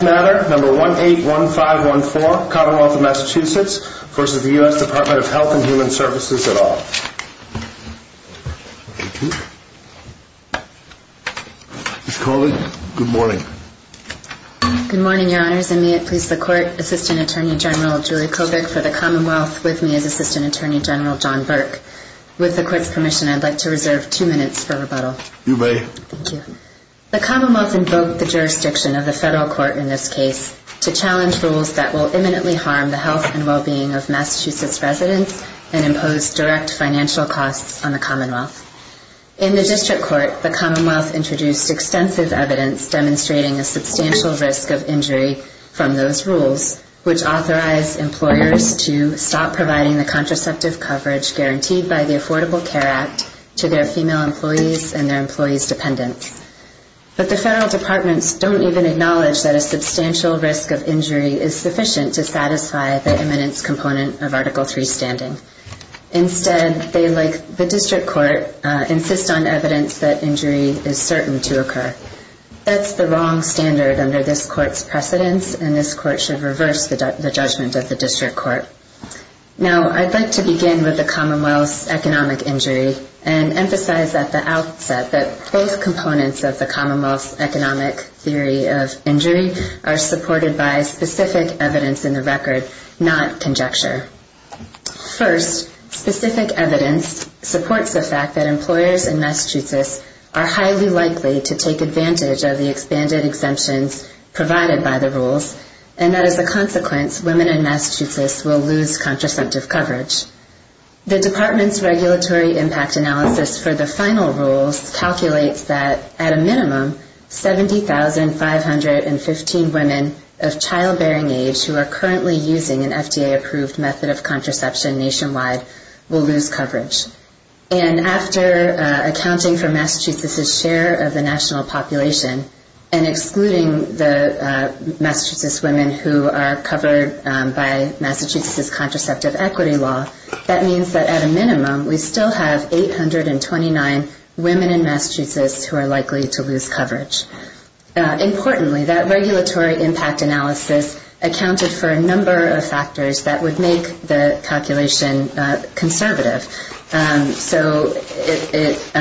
1-815-14, Commonwealth of Massachusetts v. Department of Health & Human Services at All. Ms. Corley, good morning. Good morning, your honors, and may it please the Court, Assistant Attorney General Julie Kobik for the Commonwealth, with me is Assistant Attorney General John Burke. With the Court's permission, I'd like to reserve two minutes for rebuttal. You may. Thank you. The Commonwealth invoked the jurisdiction of the Federal Court in this case to challenge rules that will imminently harm the health and well-being of Massachusetts residents and impose direct financial costs on the Commonwealth. In the District Court, the Commonwealth introduced extensive evidence demonstrating a substantial risk of injury from those rules, which authorized employers to stop providing the contraceptive coverage guaranteed by the Affordable Care Act to their female employees and their employees' dependents. But the Federal Departments don't even acknowledge that a substantial risk of injury is sufficient to satisfy the imminence component of Article III standing. Instead, they, like the District Court, insist on evidence that injury is certain to occur. That's the wrong standard under this Court's precedence, and this Court should reverse the judgment of the District Court. Now, I'd like to begin with the Commonwealth's economic injury and emphasize at the outset that both components of the Commonwealth's economic theory of injury are supported by specific evidence in the record, not conjecture. First, specific evidence supports the fact that employers in Massachusetts are highly likely to take advantage of the expanded exemptions provided by the rules, and that as a consequence, women in Massachusetts will lose contraceptive coverage. The Department's regulatory impact analysis for the final rules calculates that, at a minimum, 70,515 women of childbearing age who are currently using an FDA-approved method of contraception nationwide will lose coverage. And after accounting for Massachusetts' share of the national population and excluding the Massachusetts women who are covered by Massachusetts' contraceptive equity law, that means that, at a minimum, we still have 829 women in Massachusetts who are likely to lose coverage. Importantly, that regulatory impact analysis accounted for a number of factors that would make the calculation conservative. So it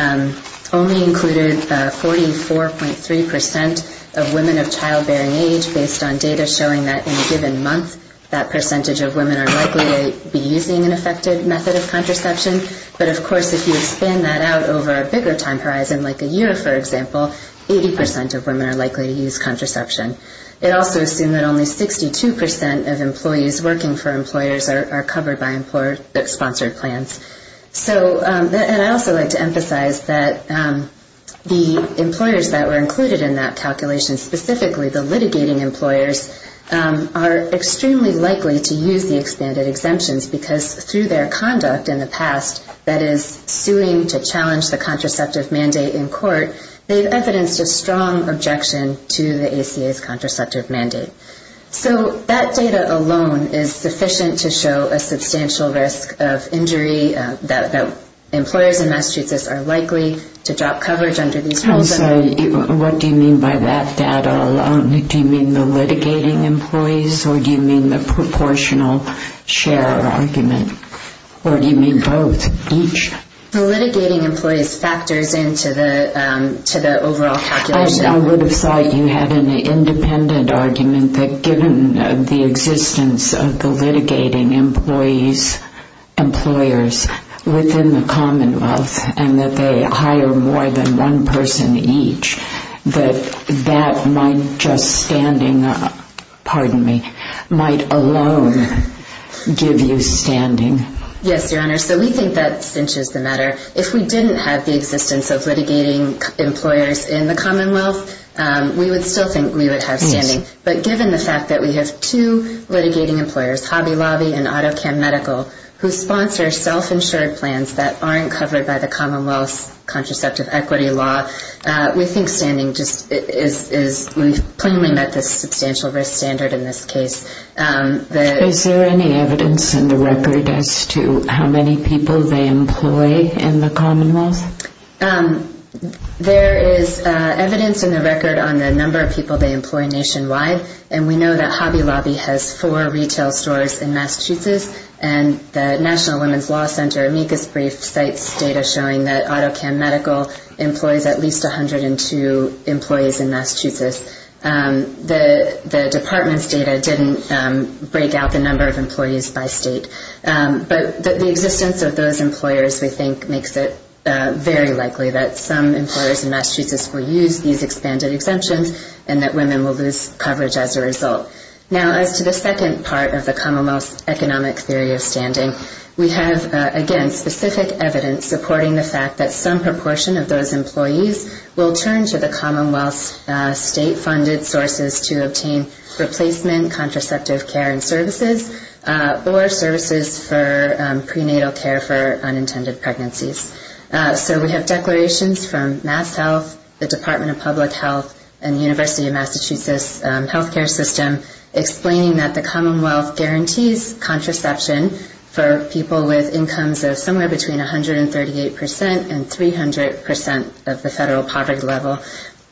only included 44.3% of women of childbearing age, based on data showing that in a given month, that percentage of women are likely to be using an effective method of contraception. But of course, if you expand that out over a bigger time horizon, like a year, for example, 80% of women are likely to use contraception. It also assumed that only 62% of employees working for employers are covered by employer-sponsored plans. And I'd also like to emphasize that the employers that were included in that calculation, specifically the litigating employers, are extremely likely to use the expanded exemptions, because through their conduct in the past that is suing to challenge the contraceptive mandate in court, they've evidenced a strong objection to the ACA's contraceptive mandate. So that data alone is sufficient to show a substantial risk of injury, that employers in Massachusetts are likely to drop coverage under these rules. I'm sorry, what do you mean by that data alone? Do you mean the litigating employees, or do you mean the proportional share argument? Or do you mean both, each? The litigating employees factors into the overall calculation. I would have thought you had an independent argument that given the existence of the litigating employees, employers within the Commonwealth, and that they hire more than one person each, that that might just standing up, pardon me, might alone give you standing. Yes, Your Honor, so we think that cinches the matter. If we didn't have the existence of litigating employers in the Commonwealth, we would still think we would have standing. But given the fact that we have two litigating employers, Hobby Lobby and AutoCam Medical, who sponsor self-insured plans that aren't covered by the Commonwealth's contraceptive equity law, we think standing just is, we've plainly met the substantial risk standard in this case. Is there any evidence in the record as to how many people they employ in the Commonwealth? There is evidence in the record on the number of people they employ nationwide, and we know that Hobby Lobby has four retail stores in Massachusetts, and the National Women's Law Center amicus brief cites data showing that AutoCam Medical employs at least 102 employees in Massachusetts. The department's data didn't break out the number of employees by state. But the existence of those employers, we think, makes it very likely that some employers in Massachusetts will use these expanded exemptions and that women will lose coverage as a result. Now, as to the second part of the Commonwealth's economic theory of standing, we have, again, specific evidence supporting the fact that some proportion of those employees will turn to the Commonwealth's state-funded sources to obtain replacement contraceptive care and services or services for prenatal care for unintended pregnancies. So we have declarations from MassHealth, the Department of Public Health, and the University of Massachusetts health care system explaining that the Commonwealth guarantees contraception for people with incomes of somewhere between 138% and 300% of the federal poverty level.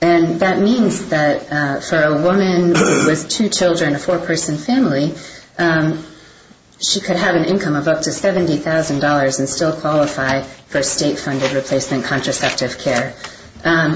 And that means that for a woman with two children, a four-person family, she could have an income of up to $70,000 and still qualify for state-funded replacement contraceptive care.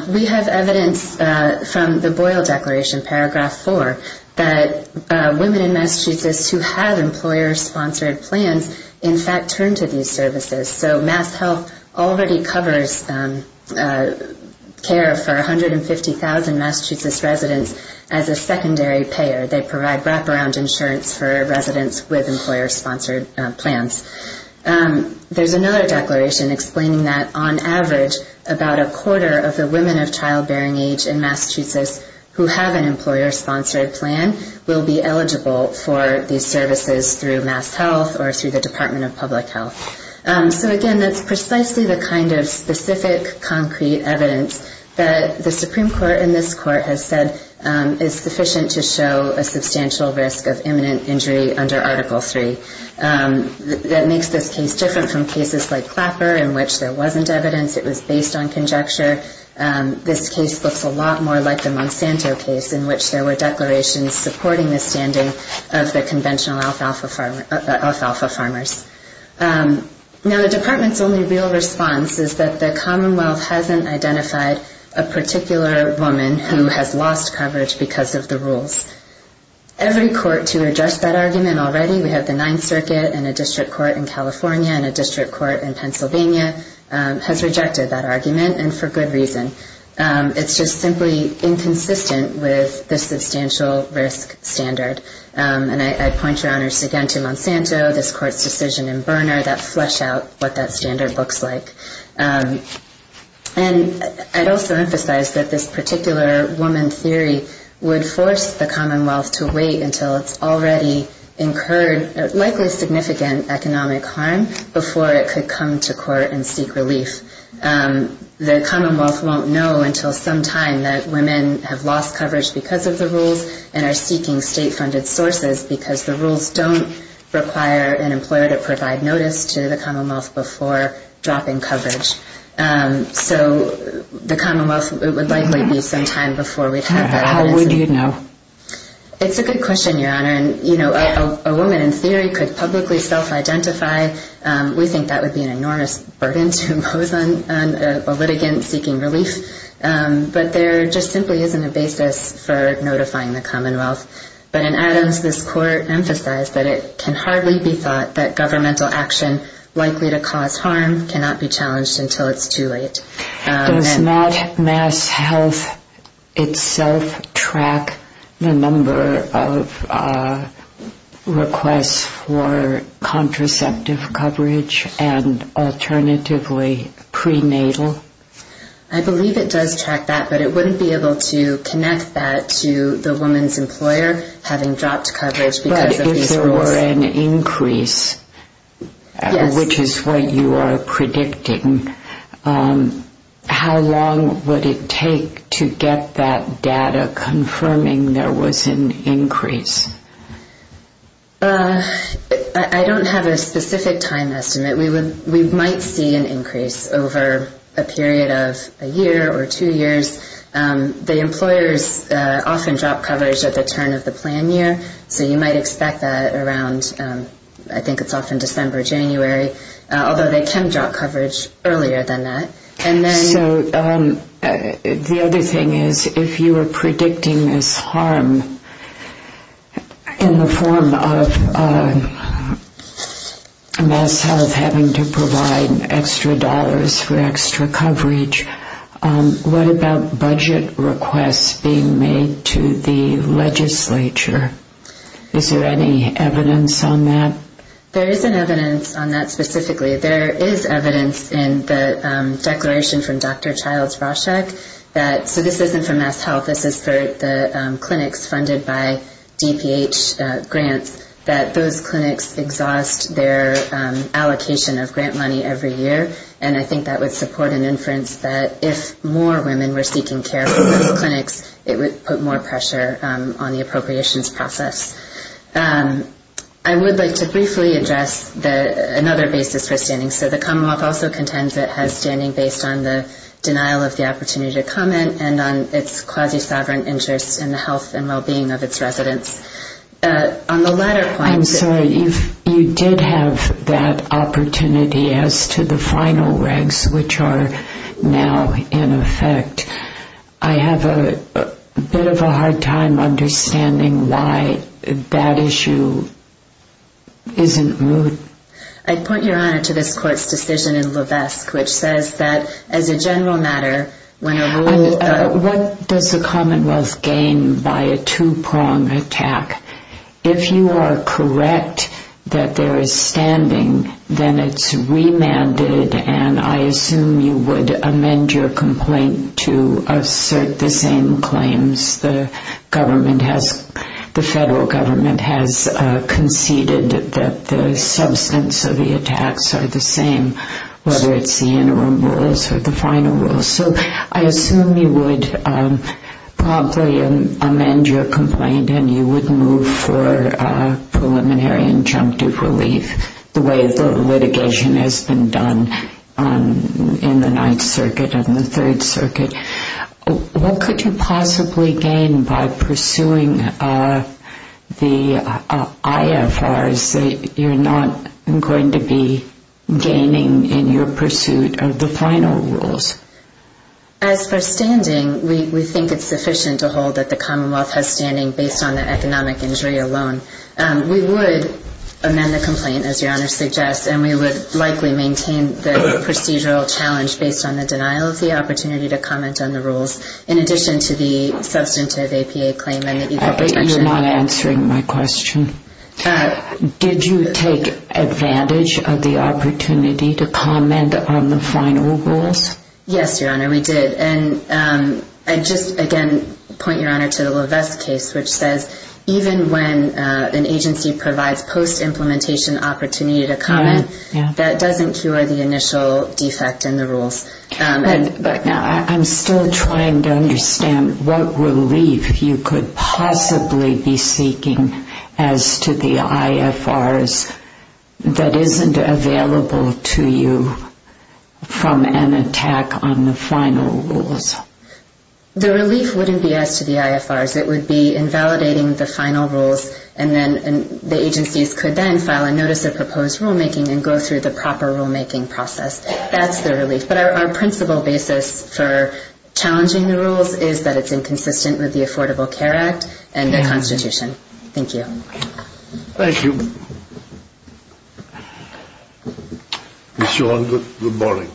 We have evidence from the Boyle Declaration, paragraph 4, that women in Massachusetts who have employer-sponsored plans, in fact, turn to these services. So MassHealth already covers care for 150,000 Massachusetts residents as a secondary payer. They provide wraparound insurance for residents with employer-sponsored plans. There's another declaration explaining that, on average, about a quarter of the women of childbearing age in Massachusetts who have an employer-sponsored plan will be eligible for these services through MassHealth or through the Department of Public Health. So again, that's precisely the kind of specific, concrete evidence that the Supreme Court in this court has said is sufficient to show a substantial risk of imminent injury under Article III. That makes this case different from cases like Clapper in which there wasn't evidence, it was based on conjecture. This case looks a lot more like the Monsanto case in which there were declarations supporting the standing of the conventional alfalfa farmers. Now, the Department's only real response is that the Commonwealth hasn't identified a particular woman who has lost coverage because of the rules. Every court to address that argument already, we have the Ninth Circuit and a district court in California and a district court in Pennsylvania, has rejected that argument, and for good reason. It's just simply inconsistent with the substantial risk standard. And I point your honors again to Monsanto, this court's decision in Berner that fleshed out what that standard looks like. And I'd also emphasize that this particular woman theory would force the Commonwealth to wait until it's already incurred likely significant economic harm before it could come to court and seek relief. The Commonwealth won't know until sometime that women have lost coverage because of the rules and are seeking state-funded sources because the rules don't require an employer to provide notice to the Commonwealth before dropping coverage. So the Commonwealth would likely be some time before we have that evidence. How would you know? Does not mass health itself track the number of requests for contraceptive coverage and alternatively prenatal? I believe it does track that, but it wouldn't be able to connect that to the woman's employer having dropped coverage because of these rules. If there were an increase, which is what you are predicting, how long would it take to get that data confirming there was an increase? I don't have a specific time estimate. We might see an increase over a period of a year or two years. The employers often drop coverage at the turn of the plan year, so you might expect that around I think it's often December, January, although they can drop coverage earlier than that. So the other thing is if you are predicting this harm in the form of mass health having to provide extra dollars for extra coverage, what about budget requests being made to the legislature? Is there any evidence on that? There is an evidence on that specifically. There is evidence in the declaration from Dr. Childs-Roshek that, so this isn't for mass health, this is for the clinics funded by DPH grants, that those clinics exhaust their allocation of grant money every year. And I think that would support an inference that if more women were seeking care from those clinics, it would put more pressure on the appropriations process. I would like to briefly address another basis for standing. So the Commonwealth also contends it has standing based on the denial of the opportunity to comment and on its quasi-sovereign interest in the health and well-being of its residents. I'm sorry, you did have that opportunity as to the final regs which are now in effect. I have a bit of a hard time understanding why that issue isn't moved. I'd point your honor to this court's decision in Levesque, which says that as a general matter, when a rule... So I assume you would probably amend your complaint and you would move for preliminary injunctive relief the way the litigation has been done in the Ninth Circuit and the Third Circuit. What could you possibly gain by pursuing the IFRs that you're not going to be gaining in your pursuit of the final rules? As for standing, we think it's sufficient to hold that the Commonwealth has standing based on the economic injury alone. We would amend the complaint, as your honor suggests, and we would likely maintain the procedural challenge based on the denial of the opportunity to comment on the rules, in addition to the substantive APA claim and the equal protection. You're not answering my question. Did you take advantage of the opportunity to comment on the final rules? Yes, your honor, we did. I'd just again point your honor to the Levesque case, which says even when an agency provides post-implementation opportunity to comment, that doesn't cure the initial defect in the rules. I'm still trying to understand what relief you could possibly be seeking as to the IFRs that isn't available to you from an attack on the final rules. The relief wouldn't be as to the IFRs. It would be in validating the final rules, and then the agencies could then file a notice of proposed rulemaking and go through the proper rulemaking process. That's the relief. But our principal basis for challenging the rules is that it's inconsistent with the Affordable Care Act and the Constitution. Thank you. Thank you. Ms. Yuan, good morning.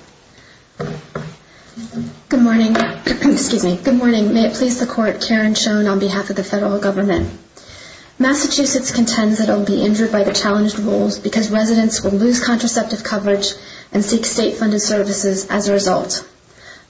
Good morning. May it please the court, Karen Schoen on behalf of the federal government. Massachusetts contends that it will be injured by the challenged rules because residents will lose contraceptive coverage and seek state-funded services as a result.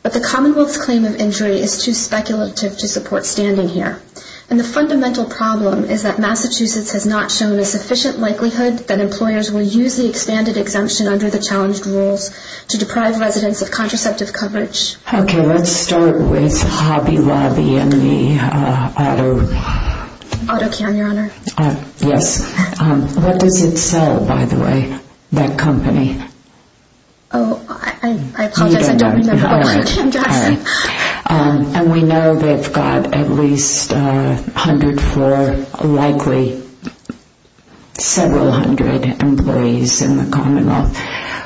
But the Commonwealth's claim of injury is too speculative to support standing here. And the fundamental problem is that Massachusetts has not shown a sufficient likelihood that employers will use the expanded exemption under the challenged rules to deprive residents of contraceptive coverage. Okay, let's start with Hobby Lobby and the auto... AutoCam, Your Honor. Yes. What does it sell, by the way, that company? Oh, I apologize, I don't remember what AutoCam does. And we know they've got at least a hundred for likely several hundred employees in the Commonwealth.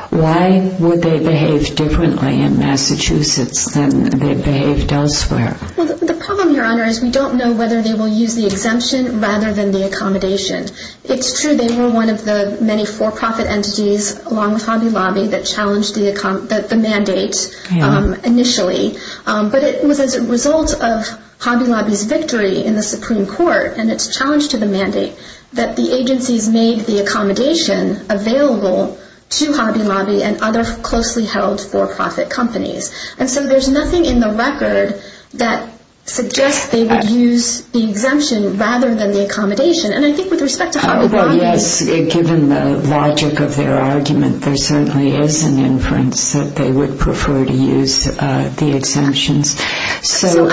Why would they behave differently in Massachusetts than they've behaved elsewhere? Well, the problem, Your Honor, is we don't know whether they will use the exemption rather than the accommodation. It's true they were one of the many for-profit entities along with Hobby Lobby that challenged the mandate initially. But it was as a result of Hobby Lobby's victory in the Supreme Court and its challenge to the mandate that the agencies made the accommodation available to Hobby Lobby and other closely held for-profit companies. And so there's nothing in the record that suggests they would use the exemption rather than the accommodation. And I think with respect to Hobby Lobby... Well, yes, given the logic of their argument, there certainly is an inference that they would prefer to use the exemptions. So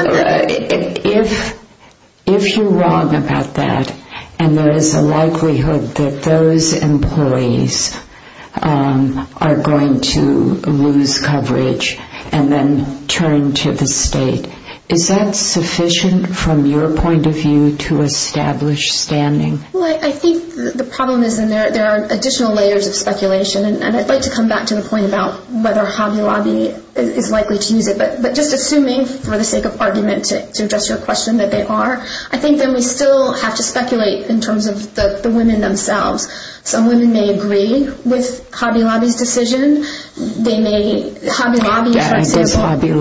if you're wrong about that and there is a likelihood that those employees are going to lose coverage and then turn to the state, is that sufficient from your point of view to establish standing? Well, I think the problem is there are additional layers of speculation. And I'd like to come back to the point about whether Hobby Lobby is likely to use it. But just assuming for the sake of argument to address your question that they are, I think that we still have to speculate in terms of the women themselves. Some women may agree with Hobby Lobby's decision. They may... Hobby Lobby, for example...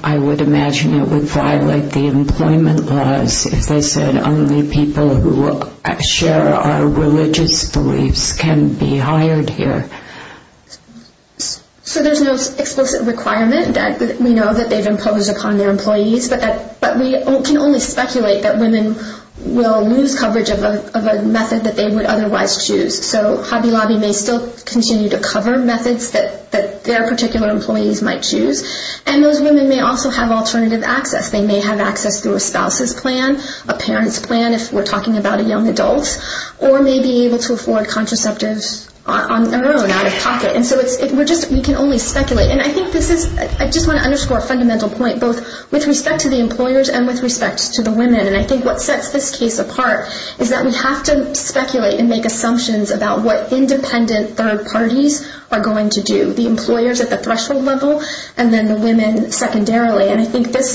I would imagine it would violate the employment laws if they said only people who share our religious beliefs can be hired here. So there's no explicit requirement that we know that they've imposed upon their employees. But we can only speculate that women will lose coverage of a method that they would otherwise choose. So Hobby Lobby may still continue to cover methods that their particular employees might choose. And those women may also have alternative access. They may have access through a spouse's plan, a parent's plan if we're talking about a young adult, or may be able to afford contraceptives on their own, out of pocket. And so we can only speculate. And I think this is... I just want to underscore a fundamental point, both with respect to the employers and with respect to the women. And I think what sets this case apart is that we have to speculate and make assumptions about what independent third parties are going to do. The employers at the threshold level, and then the women secondarily. And I think this...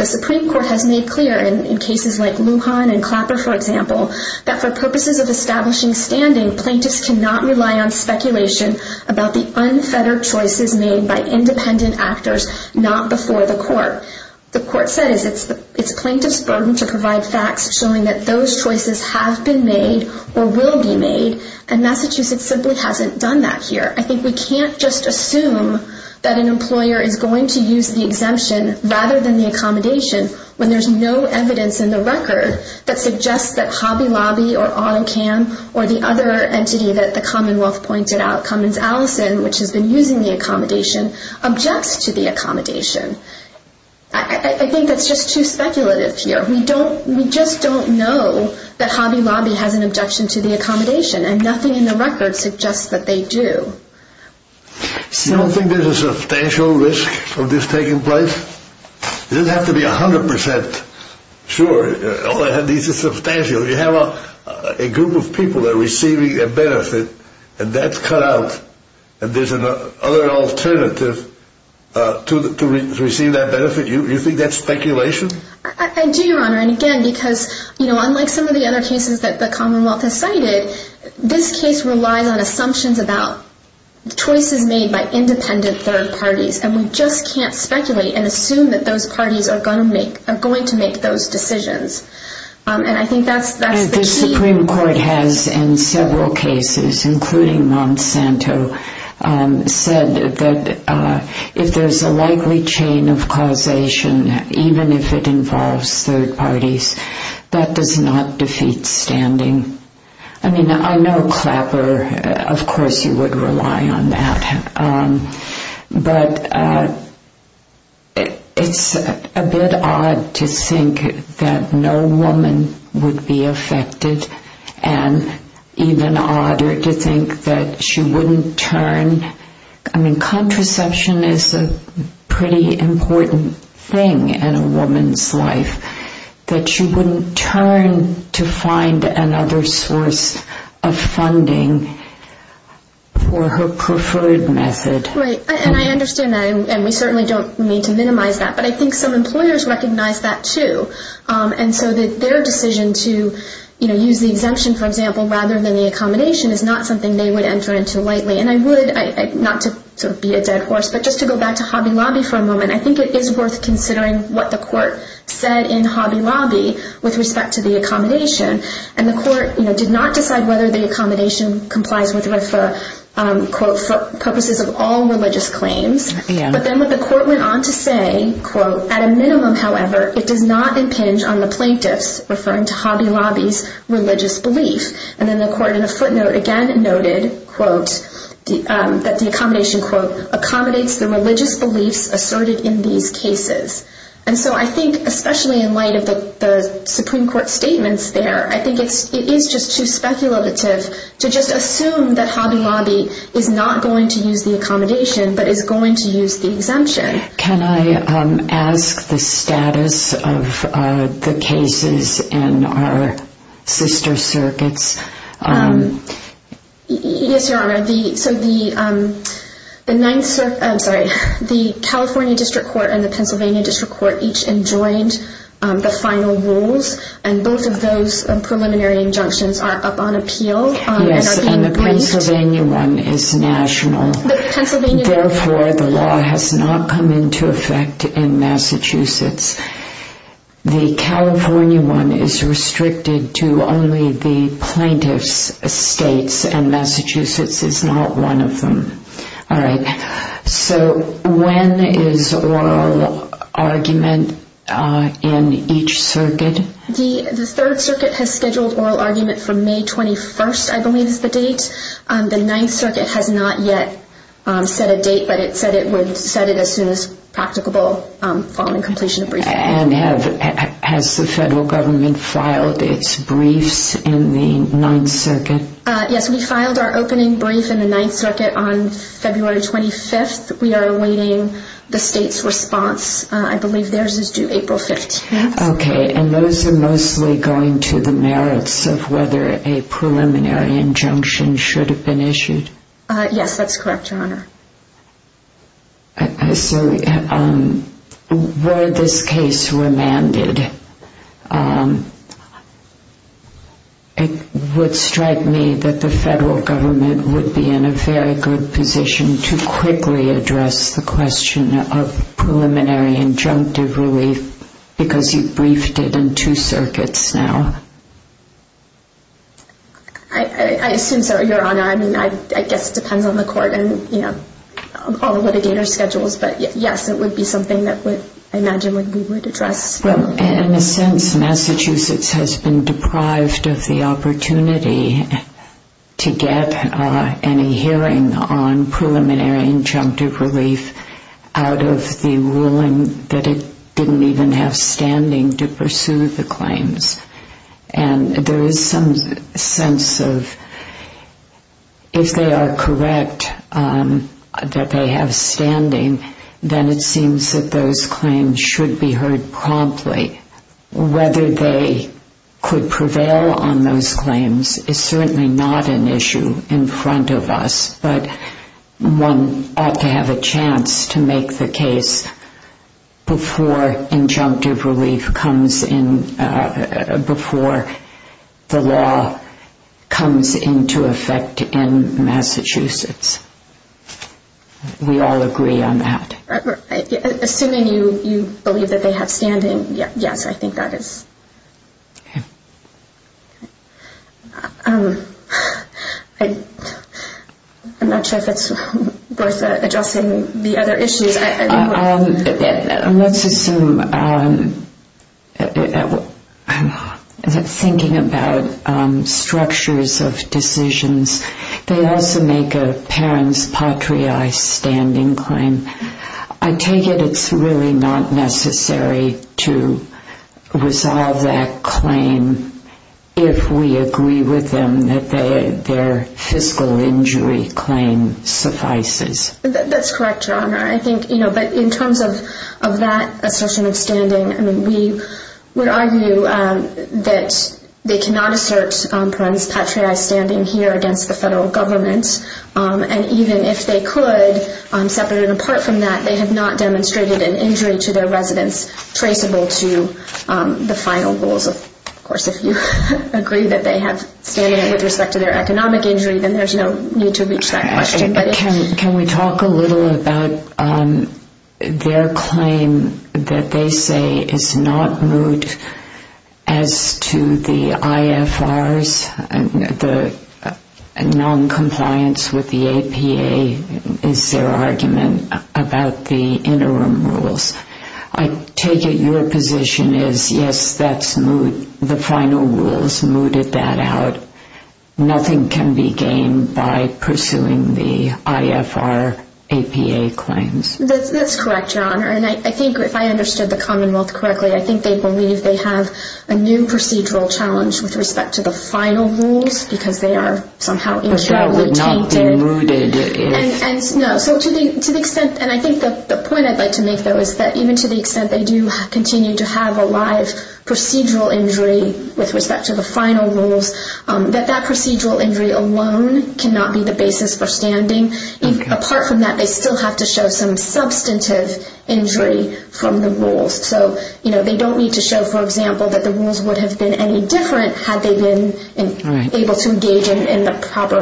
the Supreme Court has made clear in cases like Lujan and Clapper, for example, that for purposes of establishing standing, plaintiffs cannot rely on speculation about the unfettered choices made by independent actors not before the court. The court said it's the plaintiff's burden to provide facts showing that those choices have been made or will be made. And Massachusetts simply hasn't done that here. I think we can't just assume that an employer is going to use the exemption rather than the accommodation when there's no evidence in the record that suggests that Hobby Lobby or AutoCam or the other entity that the Commonwealth pointed out, Cummins Allison, which has been using the accommodation, objects to the accommodation. I think that's just too speculative here. We don't... we just don't know that Hobby Lobby has an objection to the accommodation. And nothing in the record suggests that they do. So... You don't think there's a substantial risk of this taking place? It doesn't have to be 100 percent sure. All that needs is substantial. You have a group of people that are receiving a benefit, and that's cut out, and there's another alternative to receive that benefit. You think that's speculation? I do, Your Honor. And again, because, you know, unlike some of the other cases that the Commonwealth has cited, this case relies on assumptions about choices made by independent third parties, and we just can't speculate and assume that those parties are going to make those decisions. And I think that's the key... The Supreme Court has, in several cases, including Monsanto, said that if there's a likely chain of causation, even if it involves third parties, that does not defeat standing. I mean, I know Clapper, of course he would rely on that, but it's a bit odd to think that no woman would be affected, and even odder to think that she wouldn't turn... I mean, contraception is a pretty important thing in a woman's life, that she wouldn't turn to find another source of funding for her preferred method. Right. And I understand that, and we certainly don't need to minimize that, but I think some employers recognize that, too. And so their decision to use the exemption, for example, rather than the accommodation, is not something they would enter into lightly. And I would, not to be a dead horse, but just to go back to Hobby Lobby for a moment, I think it is worth considering what the court said in Hobby Lobby with respect to the accommodation. And the court did not decide whether the accommodation complies with RIFA, quote, for purposes of all religious claims. But then the court went on to say, quote, At a minimum, however, it does not impinge on the plaintiffs, referring to Hobby Lobby's religious belief. And then the court in a footnote again noted, quote, that the accommodation, quote, And so I think, especially in light of the Supreme Court statements there, I think it is just too speculative to just assume that Hobby Lobby is not going to use the accommodation, but is going to use the exemption. Can I ask the status of the cases in our sister circuits? Yes, Your Honor. So the California District Court and the Pennsylvania District Court each enjoined the final rules, and both of those preliminary injunctions are up on appeal. Yes, and the Pennsylvania one is national. Therefore, the law has not come into effect in Massachusetts. The California one is restricted to only the plaintiff's estates, and Massachusetts is not one of them. All right. So when is oral argument in each circuit? The Third Circuit has scheduled oral argument from May 21st, I believe is the date. The Ninth Circuit has not yet set a date, but it said it would set it as soon as practicable following completion of briefing. And has the federal government filed its briefs in the Ninth Circuit? Yes, we filed our opening brief in the Ninth Circuit on February 25th. We are awaiting the state's response. I believe theirs is due April 15th. Okay, and those are mostly going to the merits of whether a preliminary injunction should have been issued? Yes, that's correct, Your Honor. So were this case remanded, it would strike me that the federal government would be in a very good position to quickly address the question of preliminary injunctive relief because you briefed it in two circuits now. I assume so, Your Honor. I mean, I guess it depends on the court and, you know, all the litigator schedules. But, yes, it would be something that I imagine we would address. Well, in a sense, Massachusetts has been deprived of the opportunity to get any hearing on preliminary injunctive relief out of the ruling that it didn't even have standing to pursue the claims. And there is some sense of if they are correct that they have standing, then it seems that those claims should be heard promptly. Whether they could prevail on those claims is certainly not an issue in front of us, but one ought to have a chance to make the case before injunctive relief comes in, before the law comes into effect in Massachusetts. We all agree on that. Assuming you believe that they have standing, yes, I think that is. Okay. I'm not sure if it's worth addressing the other issues. Let's assume that thinking about structures of decisions, they also make a parent's patriae standing claim. I take it it's really not necessary to resolve that claim if we agree with them that their fiscal injury claim suffices. That's correct, Your Honor. But in terms of that assertion of standing, we would argue that they cannot assert parent's patriae standing here against the federal government. And even if they could, separate and apart from that, they have not demonstrated an injury to their residence traceable to the final rules. Of course, if you agree that they have standing with respect to their economic injury, then there's no need to reach that question. Can we talk a little about their claim that they say is not moot as to the IFRs, the noncompliance with the APA is their argument about the interim rules. I take it your position is, yes, that's moot. The final rules mooted that out. Nothing can be gained by pursuing the IFR APA claims. That's correct, Your Honor. And I think if I understood the commonwealth correctly, I think they believe they have a new procedural challenge with respect to the final rules because they are somehow internally tainted. But that would not be mooted if... No. So to the extent, and I think the point I'd like to make, though, is that even to the extent they do continue to have a live procedural injury with respect to the final rules, that that procedural injury alone cannot be the basis for standing. Apart from that, they still have to show some substantive injury from the rules. So they don't need to show, for example, that the rules would have been any different had they been able to engage in the proper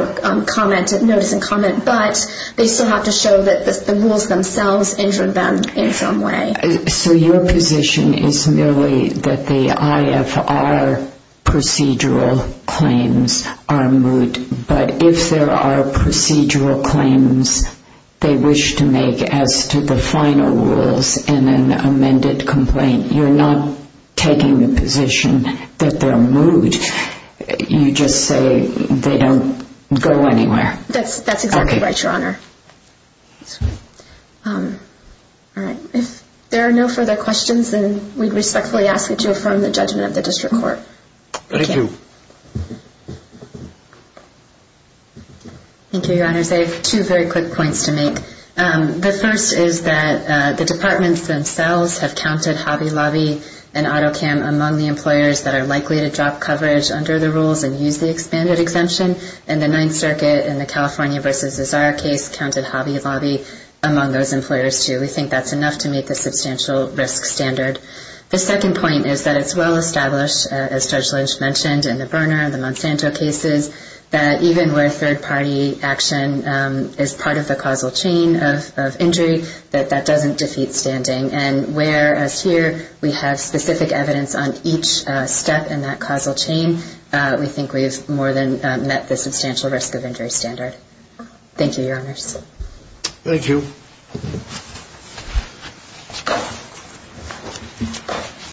notice and comment. But they still have to show that the rules themselves injured them in some way. So your position is merely that the IFR procedural claims are moot, but if there are procedural claims they wish to make as to the final rules in an amended complaint, you're not taking the position that they're moot. You just say they don't go anywhere. That's exactly right, Your Honor. All right. If there are no further questions, then we respectfully ask that you affirm the judgment of the district court. Thank you. Thank you, Your Honor. I have two very quick points to make. The first is that the departments themselves have counted Hobby Lobby and AutoCam among the employers that are likely to drop coverage under the rules and use the expanded exemption. And the Ninth Circuit in the California v. Azar case counted Hobby Lobby among those employers, too. We think that's enough to make a substantial risk standard. The second point is that it's well established, as Judge Lynch mentioned, in the Berner and the Monsanto cases, that even where third-party action is part of the causal chain of injury, that that doesn't defeat standing. And whereas here we have specific evidence on each step in that causal chain, we think we have more than met the substantial risk of injury standard. Thank you, Your Honors. Thank you.